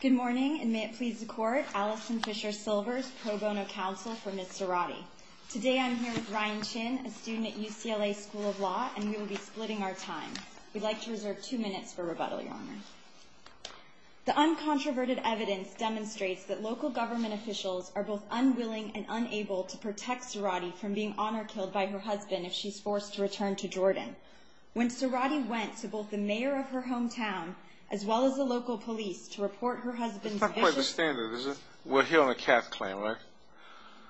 Good morning, and may it please the court, Alison Fisher Silvers, pro bono counsel for Ms. Suradi. Today I'm here with Ryan Chin, a student at UCLA School of Law, and we will be splitting our time. We'd like to reserve two minutes for rebuttal, Your Honor. The uncontroverted evidence demonstrates that local government officials are both unwilling and unable to protect Suradi from being honor killed by her husband if she's forced to return to Jordan. When Suradi went to both the mayor of her hometown, as well as the local police, to report her husband's issues. It's not quite the standard, is it? We're here on a CAT claim, right?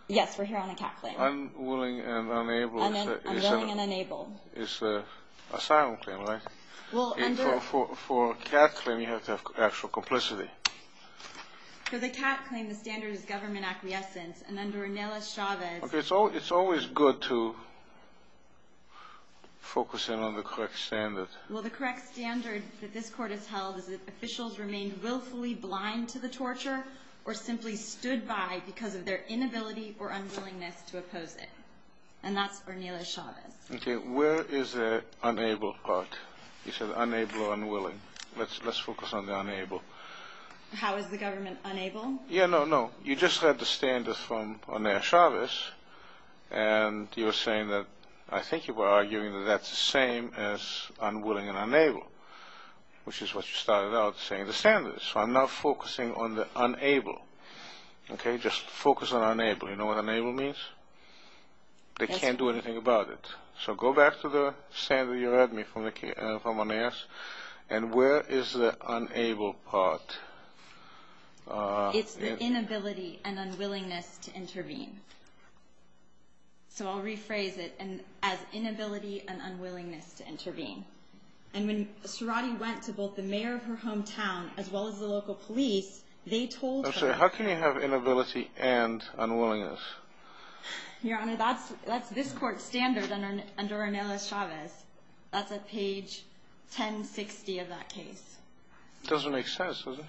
Yes, we're here on a CAT claim. Unwilling and unable is a asylum claim, right? Well, under... For a CAT claim, you have to have actual complicity. For the CAT claim, the standard is government acquiescence, and under Inela Chavez... It's always good to focus in on the correct standard. Well, the correct standard that this court has held is that officials remain willfully blind to the torture, or simply stood by because of their inability or unwillingness to oppose it. And that's for Inela Chavez. Okay, where is the unable part? You said unable or unwilling. Let's focus on the unable. How is the government unable? Yeah, no, no. You just read the standards from Inela Chavez, and you were saying that, I think you were arguing that that's the same as unwilling and unable, which is what you started out saying, the standards. So I'm not focusing on the unable. Okay, just focus on unable. You know what unable means? They can't do anything about it. So go back to the standard you read me from Onassis, and where is the unable part? It's the inability and unwillingness to intervene. So I'll rephrase it, as inability and unwillingness to intervene. And when Sorati went to both the mayor of her hometown, as well as the local police, they told her- I'm sorry, how can you have inability and unwillingness? Your Honor, that's this court's standard under Inela Chavez. That's at page 1060 of that case. Doesn't make sense, does it?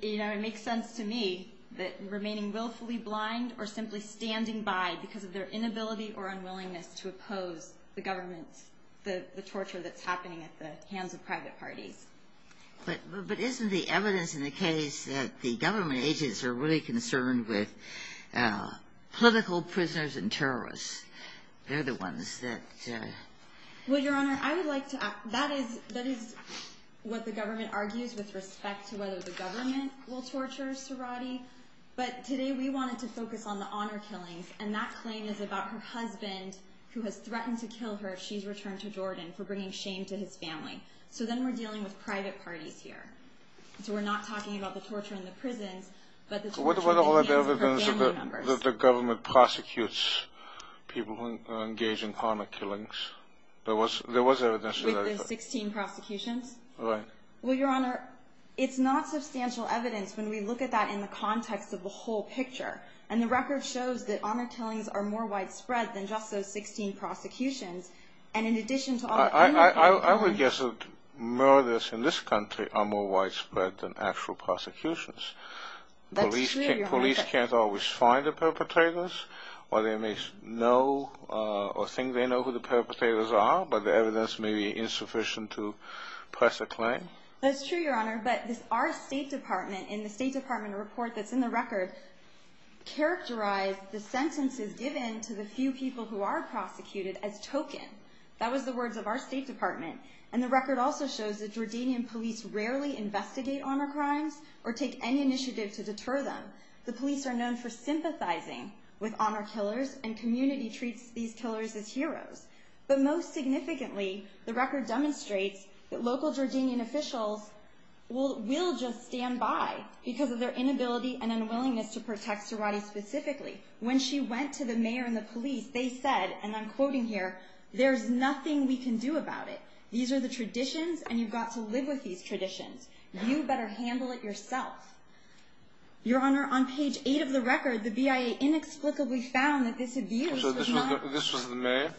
It makes sense to me that remaining willfully blind, or simply standing by because of their inability or unwillingness to oppose the government's, the torture that's happening at the hands of private parties. But isn't the evidence in the case that the government agents are really concerned with political prisoners and terrorists? They're the ones that- Well, Your Honor, I would like to- That is what the government argues with respect to whether the government will torture Sorati. But today we wanted to focus on the honor killings. And that claim is about her husband who has threatened to kill her if she's returned to Jordan for bringing shame to his family. So then we're dealing with private parties here. So we're not talking about the torture in the prisons, but the torture at the hands of her family members. What about the evidence that the government prosecutes people who engage in honor killings? There was evidence that- Wait, there's 16 prosecutions? Right. Well, Your Honor, it's not substantial evidence. When we look at that in the context of the whole picture, and the record shows that honor killings are more widespread than just those 16 prosecutions. And in addition to all the- I would guess that murders in this country are more widespread than actual prosecutions. That's true, Your Honor. Police can't always find the perpetrators, or they may know, or think they know who the perpetrators are, but the evidence may be insufficient to press a claim. That's true, Your Honor. But our State Department, in the State Department report that's in the record, characterized the sentences given to the few people who are prosecuted as token. That was the words of our State Department. And the record also shows that Jordanian police rarely investigate honor crimes, or take any initiative to deter them. The police are known for sympathizing with honor killers, and community treats these killers as heroes. But most significantly, the record demonstrates that local Jordanian officials will just stand by because of their inability and unwillingness to protect Sirotty specifically. When she went to the mayor and the police, they said, and I'm quoting here, there's nothing we can do about it. These are the traditions, and you've got to live with these traditions. You better handle it yourself. Your Honor, on page eight of the record, the BIA inexplicably found that this abuse was not- This was the mayor?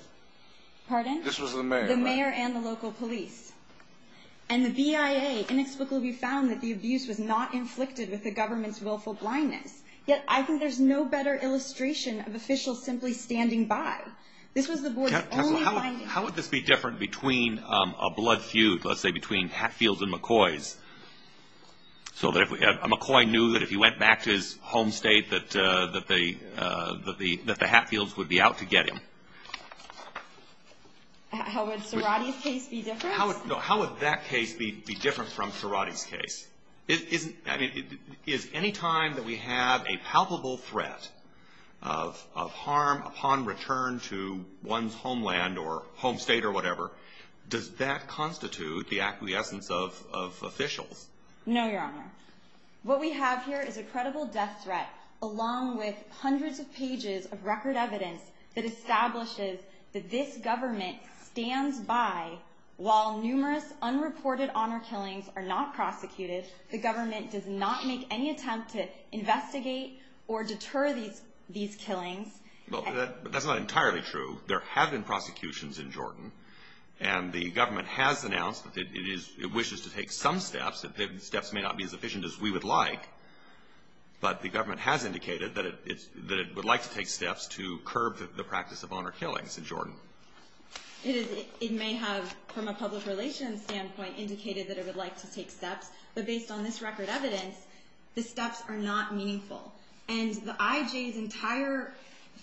Pardon? This was the mayor, right? And the local police. And the BIA inexplicably found that the abuse was not inflicted with the government's willful blindness. Yet, I think there's no better illustration of officials simply standing by. This was the board's only- How would this be different between a blood feud, let's say, between Hatfields and McCoys, so that if a McCoy knew that if he went back to his home state that the Hatfields would be out to get him? How would Cerati's case be different? No, how would that case be different from Cerati's case? I mean, is any time that we have a palpable threat of harm upon return to one's homeland or home state or whatever, does that constitute the acquiescence of officials? No, Your Honor. What we have here is a credible death threat, along with hundreds of pages of record evidence that establishes that this government stands by while numerous unreported honor killings are not prosecuted. The government does not make any attempt to investigate or deter these killings. Well, that's not entirely true. There have been prosecutions in Jordan. And the government has announced that it wishes to take some steps. The steps may not be as efficient as we would like, but the government has indicated that it would like to take steps to curb the practice of honor killings in Jordan. It may have, from a public relations standpoint, indicated that it would like to take steps, but based on this record evidence, the steps are not meaningful. And the IJ's entire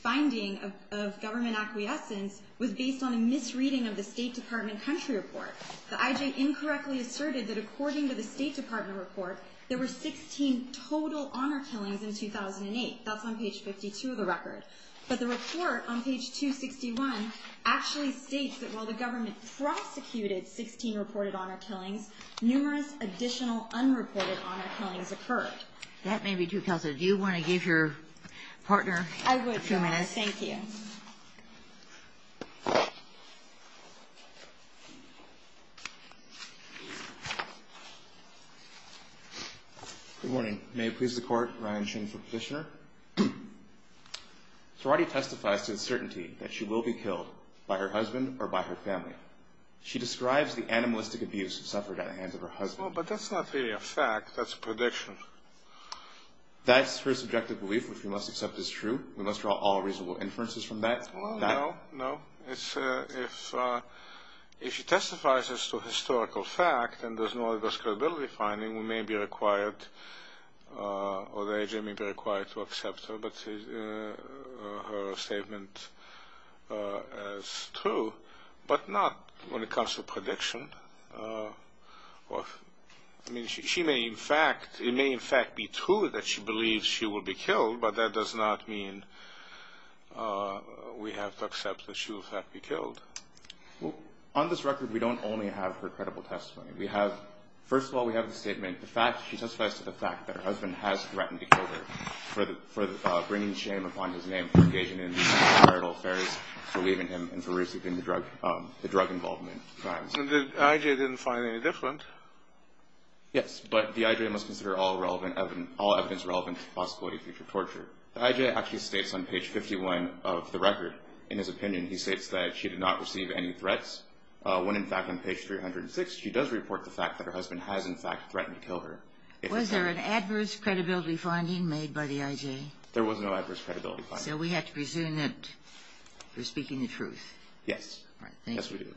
finding of government acquiescence was based on a misreading of the State Department country report. The IJ incorrectly asserted that according to the State Department report, there were 16 total honor killings in 2008. That's on page 52 of the record. But the report on page 261 actually states that while the government prosecuted 16 reported honor killings, numerous additional unreported honor killings occurred. That may be true. Kelsey, do you want to give your partner a few minutes? I would, yes, thank you. Good morning. May it please the court, Ryan Ching for petitioner. Sorati testifies to the certainty that she will be killed by her husband or by her family. She describes the animalistic abuse suffered at the hands of her husband. Well, but that's not really a fact. That's a prediction. That's her subjective belief, which we must accept is true. We must draw all reasonable inferences from that. Well, no, no. It's, if she testifies as to a historical fact and there's no other scalability finding, we may be required or the agency may be required to accept her statement as true, but not when it comes to prediction. I mean, she may in fact, it may in fact be true that she believes she will be killed, but that does not mean we have to accept that she will in fact be killed. Well, on this record, we don't only have her credible testimony. We have, first of all, we have the statement, the fact that she testifies to the fact that her husband has threatened to kill her for bringing shame upon his name, for engaging in marital affairs, for leaving him, and for receiving the drug involvement crimes. And the IJ didn't find any different. Yes, but the IJ must consider all relevant evidence, all evidence relevant to the possibility of future torture. The IJ actually states on page 51 of the record, in his opinion, he states that she did not receive any threats, when in fact on page 306, she does report the fact that her husband has in fact threatened to kill her. Was there an adverse credibility finding made by the IJ? There was no adverse credibility finding. So we have to presume that you're speaking the truth. Yes, yes we do.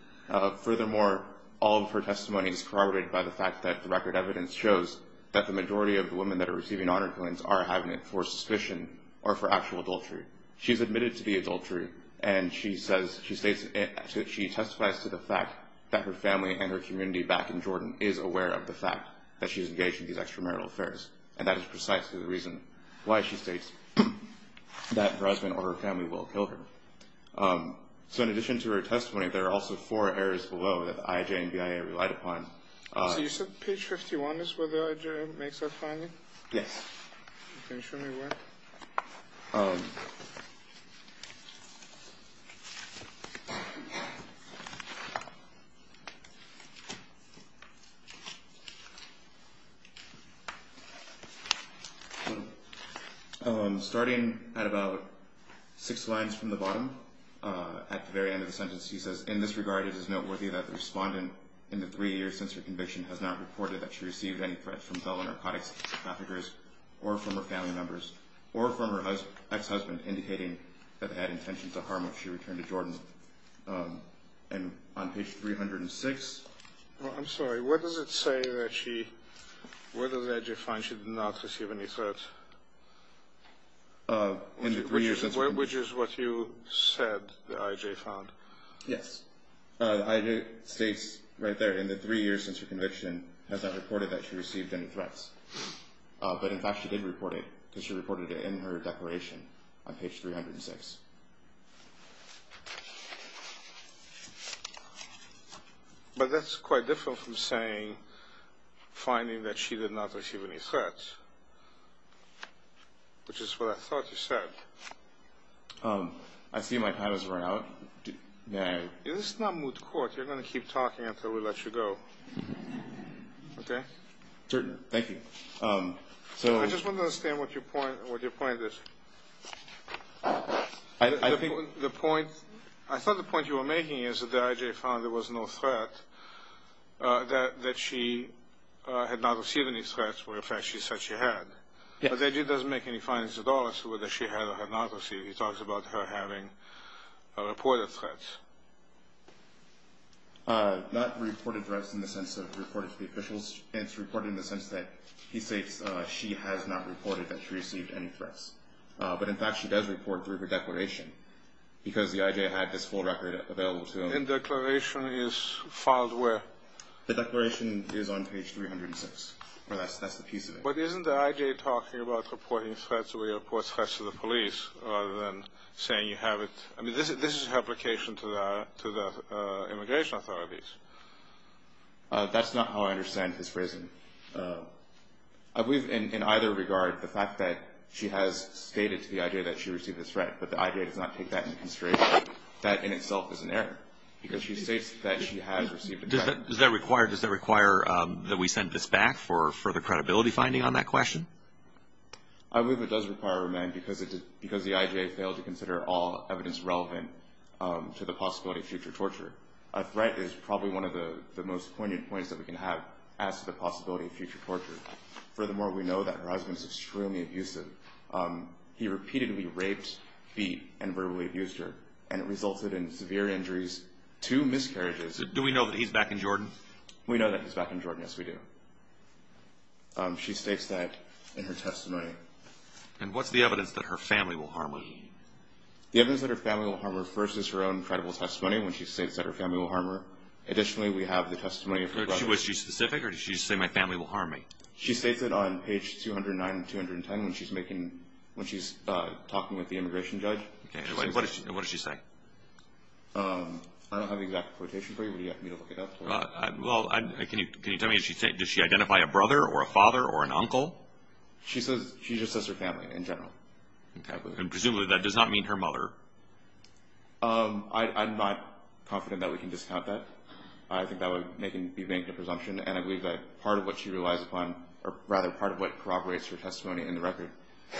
Furthermore, all of her testimony is corroborated by the fact that the record evidence shows that the majority of the women that are receiving honor killings are having it for suspicion or for actual adultery. She's admitted to the adultery, and she says, she states, she testifies to the fact that her family and her community back in Jordan is aware of the fact that she's engaged in these extramarital affairs. And that is precisely the reason why she states that her husband or her family will kill her. So in addition to her testimony, there are also four areas below that the IJ and BIA relied upon. So you said page 51 is where the IJ makes that finding? Yes. Can you show me where? Okay. Starting at about six lines from the bottom, at the very end of the sentence, he says, in this regard, it is noteworthy that the respondent in the three years since her conviction has not reported that she received any threats from fellow narcotics traffickers, or from her family members, or from her ex-husband, indicating that they had intentions to harm her if she returned to Jordan. And on page 306. I'm sorry, what does it say that she, where does the IJ find she did not receive any threats? In the three years since her conviction. Which is what you said the IJ found. Yes. The IJ states right there, in the three years since her conviction, has not reported that she received any threats. But in fact, she did report it, because she reported it in her declaration on page 306. But that's quite different from saying, finding that she did not receive any threats. Which is what I thought you said. I see my time has run out. This is not moot court, you're gonna keep talking until we let you go. Okay? Certainly, thank you. I just want to understand what your point is. I think the point, I thought the point you were making is that the IJ found there was no threat, that she had not received any threats, when in fact she said she had. Yes. But the IJ doesn't make any findings at all as to whether she had or had not received. He talks about her having reported threats. Not reported threats in the sense of reported to the officials. It's reported in the sense that he states she has not reported that she received any threats. But in fact she does report through her declaration. Because the IJ had this full record available to him. And declaration is filed where? The declaration is on page 306. Or that's the piece of it. But isn't the IJ talking about reporting threats where he reports threats to the police rather than saying you have it, I mean this is a replication to the immigration authorities. That's not how I understand his phrasing. I believe in either regard, the fact that she has stated to the IJ that she received a threat, but the IJ does not take that into consideration. That in itself is an error. Because she states that she has received a threat. Does that require that we send this back for further credibility finding on that question? I believe it does require a remand because the IJ failed to consider all evidence relevant to the possibility of future torture. A threat is probably one of the most poignant points that we can have as to the possibility of future torture. Furthermore, we know that her husband is extremely abusive. He repeatedly raped, beat, and verbally abused her. And it resulted in severe injuries, two miscarriages. Do we know that he's back in Jordan? We know that he's back in Jordan, yes we do. She states that in her testimony. And what's the evidence that her family will harm her? The evidence that her family will harm her first is her own credible testimony when she states that her family will harm her. Additionally, we have the testimony of her brother. Was she specific or did she just say my family will harm me? She states it on page 209 and 210 when she's talking with the immigration judge. Okay, and what does she say? I don't have the exact quotation for you. Would you like me to look it up? Well, can you tell me, does she identify a brother or a father or an uncle? She just says her family in general. Okay, and presumably that does not mean her mother. I'm not confident that we can discount that. I think that would be making a presumption and I believe that part of what she relies upon, or rather part of what corroborates her testimony in the record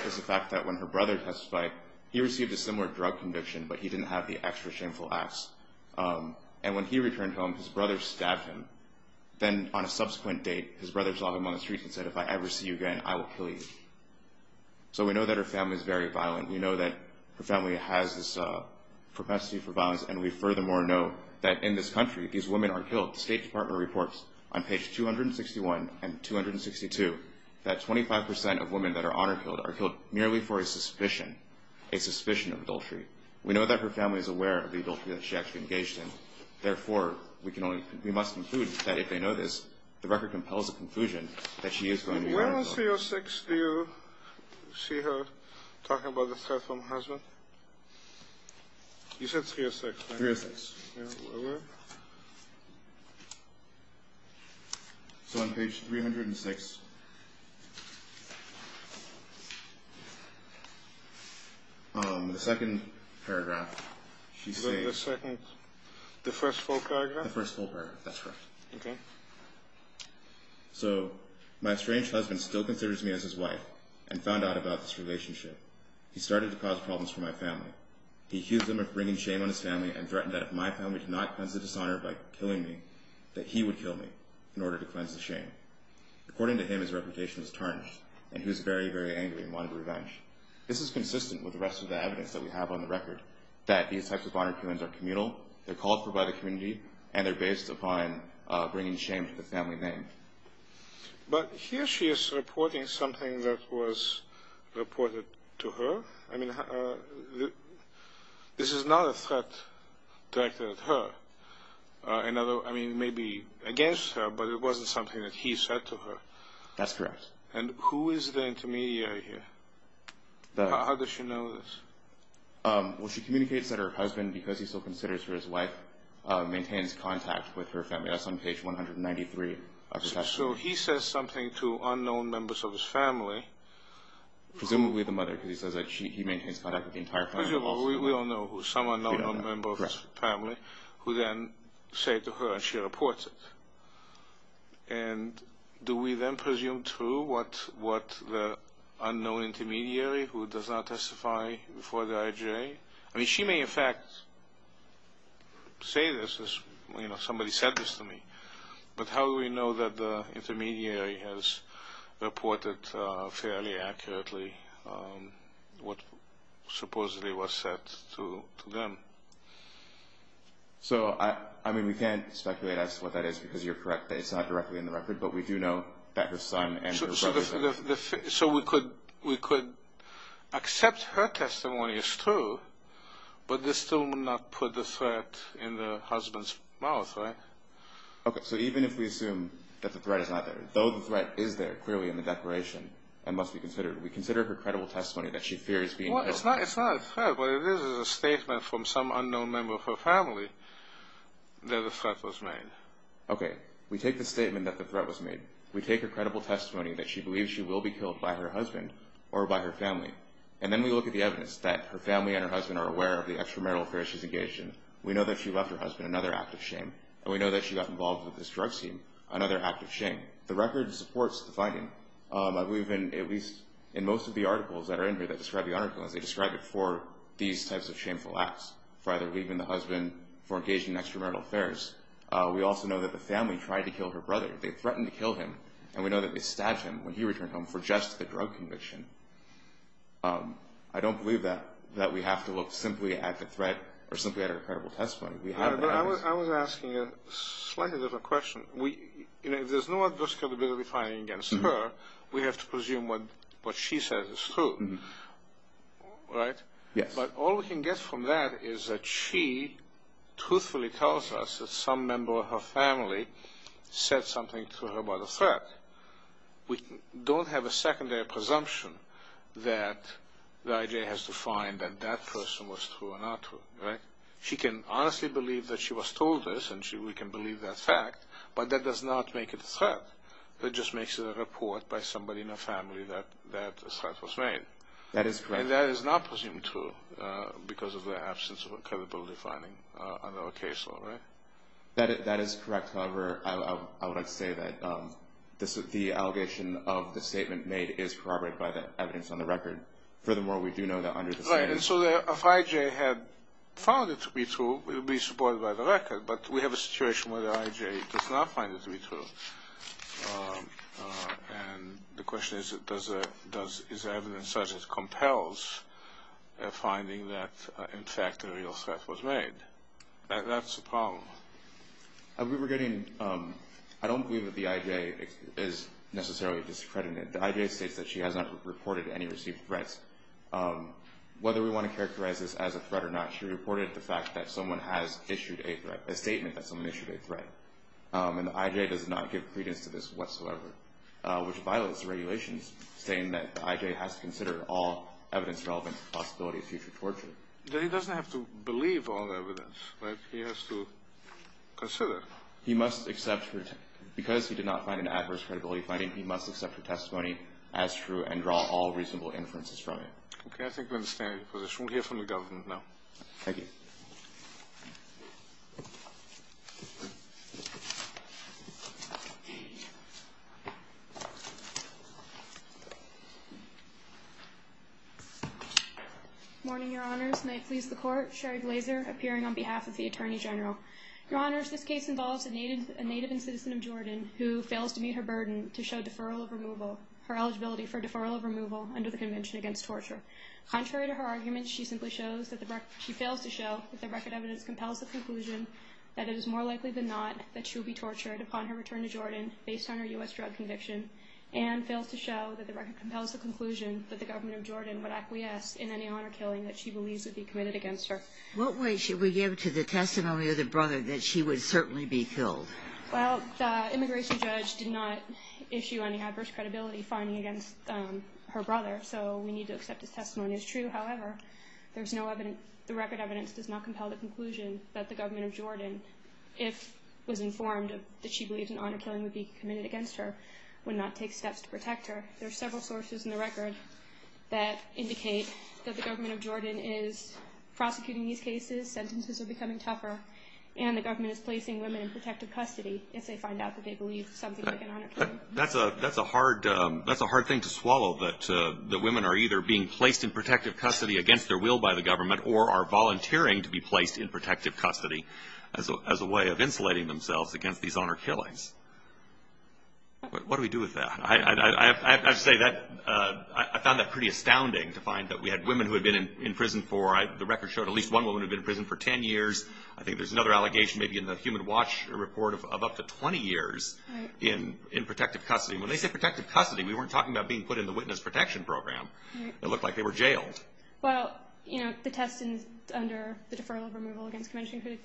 is the fact that when her brother testified, he received a similar drug conviction but he didn't have the extra shameful acts. And when he returned home, his brother stabbed him. Then on a subsequent date, his brother saw him on the street and said, if I ever see you again, I will kill you. So we know that her family is very violent. We know that her family has this propensity for violence and we furthermore know that in this country, these women are killed. The State Department reports on page 261 and 262, that 25% of women that are honor killed are killed merely for a suspicion, a suspicion of adultery. We know that her family is aware of the adultery that she actually engaged in. Therefore, we can only, we must conclude that if they know this, the record compels a conclusion that she is going to be- When on 306, do you see her talking about the threat from her husband? You said 306, right? 306. So on page 306, the second paragraph, she says- The second, the first full paragraph? The first full paragraph, that's right. Okay. So, my estranged husband still considers me as his wife and found out about this relationship. He started to cause problems for my family. He accused them of bringing shame on his family and threatened that if my family did not cleanse the dishonor by killing me, that he would kill me in order to cleanse the shame. According to him, his reputation was tarnished and he was very, very angry and wanted revenge. This is consistent with the rest of the evidence that we have on the record, that these types of honor killings are communal, they're called for by the community, and they're based upon bringing shame to the family name. But here she is reporting something that was reported to her. I mean, this is not a threat directed at her. I mean, maybe against her, but it wasn't something that he said to her. That's correct. And who is the intermediary here? How does she know this? Well, she communicates that her husband, because he still considers her his wife, maintains contact with her family. That's on page 193 of the text. So, he says something to unknown members of his family. Presumably the mother, because he says that he maintains contact with the entire family. Well, we all know some unknown member of his family who then say to her, and she reports it. And do we then presume true what the unknown intermediary who does not testify before the IJA? I mean, she may in fact say this as, you know, somebody said this to me. But how do we know that the intermediary has reported fairly accurately what supposedly was said to them? So, I mean, we can't speculate as to what that is because you're correct that it's not directly in the record, but we do know that her son and her brother- So, we could accept her testimony as true, but this still would not put the threat in the husband's mouth, right? Okay, so even if we assume that the threat is not there, though the threat is there clearly in the declaration and must be considered, we consider her credible testimony that she fears being killed. Well, it's not a threat, but it is a statement from some unknown member of her family that the threat was made. Okay, we take the statement that the threat was made. We take her credible testimony that she believes she will be killed by her husband or by her family. And then we look at the evidence that her family and her husband are aware of the extramarital affairs she's engaged in. We know that she left her husband another act of shame. And we know that she got involved with this drug scene, another act of shame. The record supports the finding. I believe in at least in most of the articles that are in here that describe the honor killings, they describe it for these types of shameful acts, for either leaving the husband, for engaging in extramarital affairs. We also know that the family tried to kill her brother. They threatened to kill him. And we know that they stabbed him when he returned home for just the drug conviction. I don't believe that we have to look simply at the threat or simply at her credible testimony. We have that evidence. I was asking a slightly different question. If there's no adverse capability finding against her, we have to presume what she says is true. Right? But all we can get from that is that she truthfully tells us that some member of her family said something to her about a threat. We don't have a secondary presumption that the IJ has to find that that person was true or not true, right? She can honestly believe that she was told this and we can believe that fact, but that does not make it a threat. That just makes it a report by somebody in her family that that threat was made. That is correct. And that is not presumed true because of the absence of a credibility finding under the case law, right? That is correct. However, I would like to say that the allegation of the statement made is corroborated by the evidence on the record. Furthermore, we do know that under the stand- Right, and so if IJ had found it to be true, it would be supported by the record, but we have a situation where the IJ does not find it to be true. And the question is, is evidence such as compels a finding that in fact a real threat was made? That's the problem. We were getting, I don't believe that the IJ is necessarily discredited. The IJ states that she has not reported any received threats. Whether we want to characterize this as a threat or not, she reported the fact that someone has issued a threat, a statement that someone issued a threat. And the IJ does not give credence to this whatsoever, which violates the regulations, saying that the IJ has to consider all evidence relevant to the possibility of future torture. Then he doesn't have to believe all the evidence, right? He has to consider it. He must accept, because he did not find an adverse credibility finding, he must accept her testimony as true and draw all reasonable inferences from it. Okay, I think we understand your position. We'll hear from the government now. Thank you. Thank you. Morning, your honors. May it please the court. Sherry Glazer, appearing on behalf of the Attorney General. Your honors, this case involves a native and citizen of Jordan who fails to meet her burden to show deferral of removal, her eligibility for deferral of removal under the Convention Against Torture. Contrary to her argument, she simply shows that the, she fails to show that the record evidence compels the conclusion that it is more likely than not that she will be tortured upon her return to Jordan based on her U.S. drug conviction and fails to show that the record compels the conclusion that the government of Jordan would acquiesce in any honor killing that she believes would be committed against her. What weight should we give to the testimony of the brother that she would certainly be killed? Well, the immigration judge did not issue any adverse credibility finding against her brother, so we need to accept his testimony as true. However, there's no evidence, the record evidence does not compel the conclusion that the government of Jordan, if it was informed that she believes an honor killing would be committed against her, would not take steps to protect her. There are several sources in the record that indicate that the government of Jordan is prosecuting these cases, sentences are becoming tougher, and the government is placing women in protective custody if they find out that they believe something like an honor killing. That's a hard thing to swallow, that the women are either being placed in protective custody against their will by the government or are volunteering to be placed in protective custody as a way of insulating themselves against these honor killings. But what do we do with that? I have to say, I found that pretty astounding to find that we had women who had been in prison for, the record showed at least one woman had been in prison for 10 years. I think there's another allegation, maybe in the Human Watch report, of up to 20 years in protective custody. When they say protective custody, we weren't talking about being put in the Witness Protection Program. It looked like they were jailed. Well, the test under the Deferral of Removal against Convention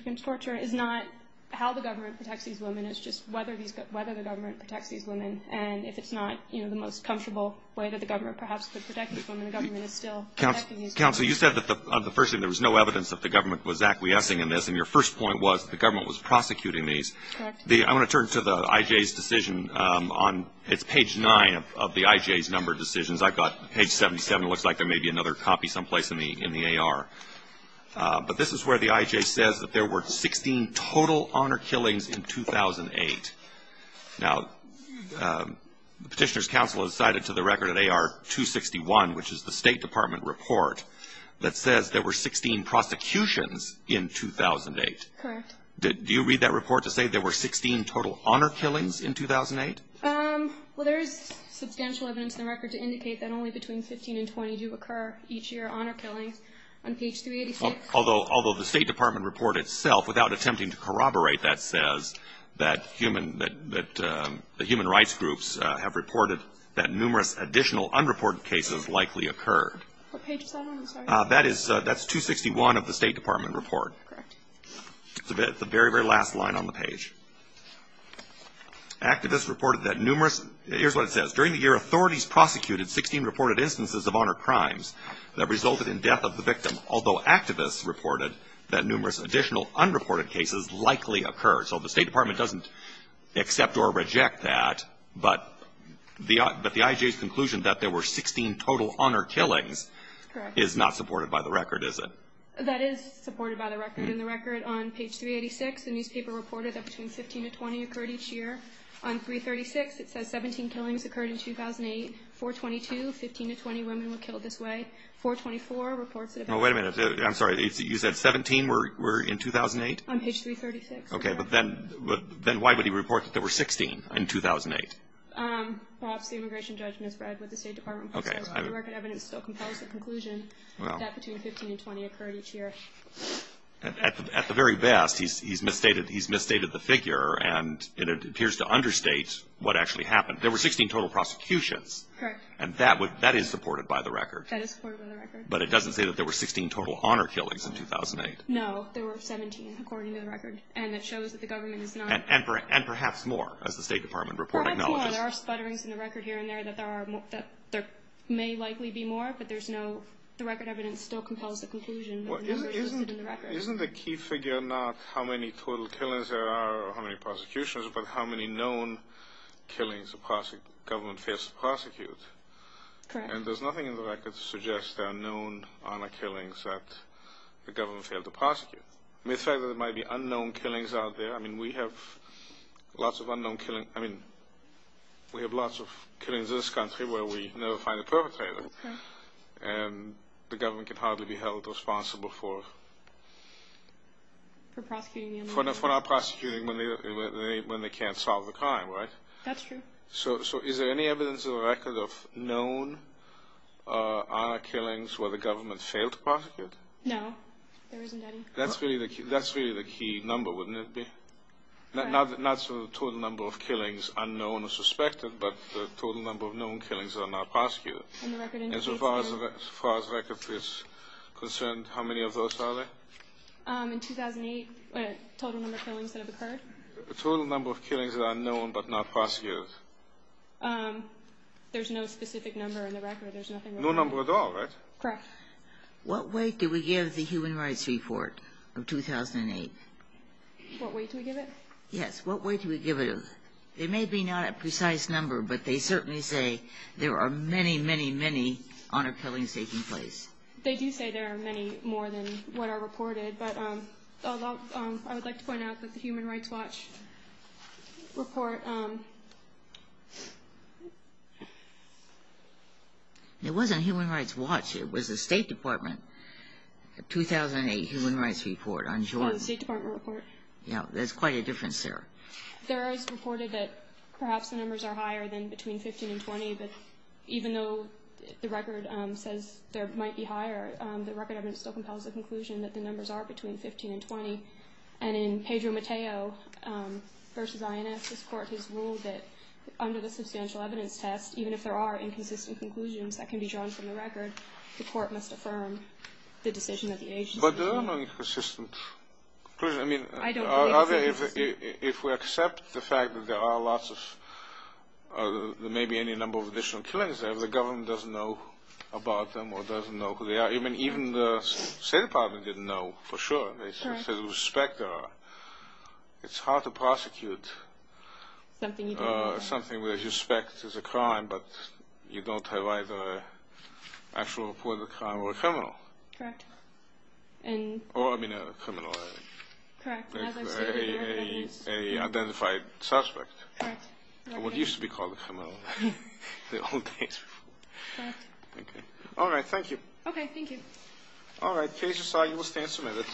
Against Torture is not how the government protects these women, it's just whether the government protects these women, and if it's not the most comfortable way that the government perhaps could protect these women, the government is still protecting these women. Counsel, you said that the first thing, there was no evidence that the government was acquiescing in this, and your first point was the government was prosecuting these. I want to turn to the IJ's decision, on, it's page nine of the IJ's number of decisions. I've got page 77, it looks like there may be another copy someplace in the AR. But this is where the IJ says that there were 16 total honor killings in 2008. Now, the Petitioner's Counsel has cited to the record at AR 261, which is the State Department report, that says there were 16 prosecutions in 2008. Correct. Do you read that report to say there were 16 total honor killings in 2008? Well, there is substantial evidence in the record to indicate that only between 15 and 20 do occur each year, honor killings, on page 386. Although the State Department report itself, without attempting to corroborate, that says that the human rights groups have reported that numerous additional unreported cases likely occurred. What page is that on, I'm sorry? That's 261 of the State Department report. Correct. It's the very, very last line on the page. Activists reported that numerous, here's what it says. During the year, authorities prosecuted 16 reported instances of honor crimes that resulted in death of the victim, although activists reported that numerous additional unreported cases likely occurred. So the State Department doesn't accept or reject that, but the IJ's conclusion that there were 16 total honor killings is not supported by the record, is it? That is supported by the record. In the record on page 386, the newspaper reported that between 15 to 20 occurred each year. On page 336, it says 17 killings occurred in 2008. 422, 15 to 20 women were killed this way. 424 reports that- Oh, wait a minute. I'm sorry, you said 17 were in 2008? On page 336. Okay, but then why would he report that there were 16 in 2008? Perhaps the immigration judgment is read with the State Department- Okay. But the record evidence still compels the conclusion that between 15 and 20 occurred each year. At the very best, he's misstated the figure and it appears to understate what actually happened. There were 16 total prosecutions. Correct. And that is supported by the record. That is supported by the record. But it doesn't say that there were 16 total honor killings in 2008. No, there were 17, according to the record. And it shows that the government is not- And perhaps more, as the State Department report acknowledges. Perhaps more. There are sputterings in the record here and there that there may likely be more, but there's no- The record evidence still compels the conclusion that the number is listed in the record. Isn't the key figure not how many total killings there are or how many prosecutions, but how many known killings the government fails to prosecute? Correct. And there's nothing in the record to suggest there are known honor killings that the government failed to prosecute. The fact that there might be unknown killings out there, I mean, we have lots of unknown killings. I mean, we have lots of killings in this country where we never find a perpetrator, and the government can hardly be held responsible for- For prosecuting the unknown. For not prosecuting when they can't solve the crime, right? That's true. So is there any evidence in the record of known honor killings where the government failed to prosecute? No, there isn't any. That's really the key number, wouldn't it be? Not sort of the total number of killings, unknown or suspected, but the total number of known killings that are not prosecuted. And the record indicates that- As far as the record is concerned, how many of those are there? In 2008, total number of killings that have occurred? The total number of killings that are known but not prosecuted. There's no specific number in the record. There's nothing- No number at all, right? Correct. What weight do we give the Human Rights Report of 2008? What weight do we give it? Yes, what weight do we give it? There may be not a precise number, but they certainly say there are many, many, many honor killings taking place. They do say there are many more than what are reported, but I would like to point out that the Human Rights Watch report- It wasn't Human Rights Watch, it was the State Department 2008 Human Rights Report on Jordan. Oh, the State Department report. Yeah, there's quite a difference there. There is reported that perhaps the numbers are higher than between 15 and 20, but even though the record says there might be higher, the record evidence still compels the conclusion that the numbers are between 15 and 20. And in Pedro Mateo v. INS, this court has ruled that under the substantial evidence test, even if there are inconsistent conclusions that can be drawn from the record, the court must affirm the decision of the agency. But there are many consistent conclusions. I mean- I don't believe it's inconsistent. If we accept the fact that there are lots of, there may be any number of additional killings there, the government doesn't know about them or doesn't know who they are. Even the State Department didn't know for sure. They said whose spec there are. It's hard to prosecute something where your spec is a crime, but you don't have either an actual report of the crime or a criminal. Correct. And- Or, I mean, a criminal. Correct. As I've stated, there is- A identified suspect. Correct. Or what used to be called a criminal, the old days. Correct. Okay. All right, thank you. Okay, thank you. All right, Kasia Sawyer, you will stand submitted.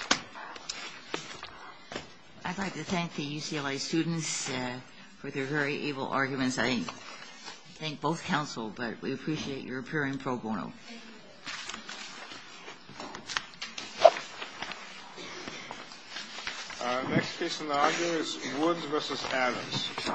I'd like to thank the UCLA students for their very able arguments. I thank both counsel, but we appreciate your appearing pro bono. Thank you. Our next case in the audio is Woods v. Adams.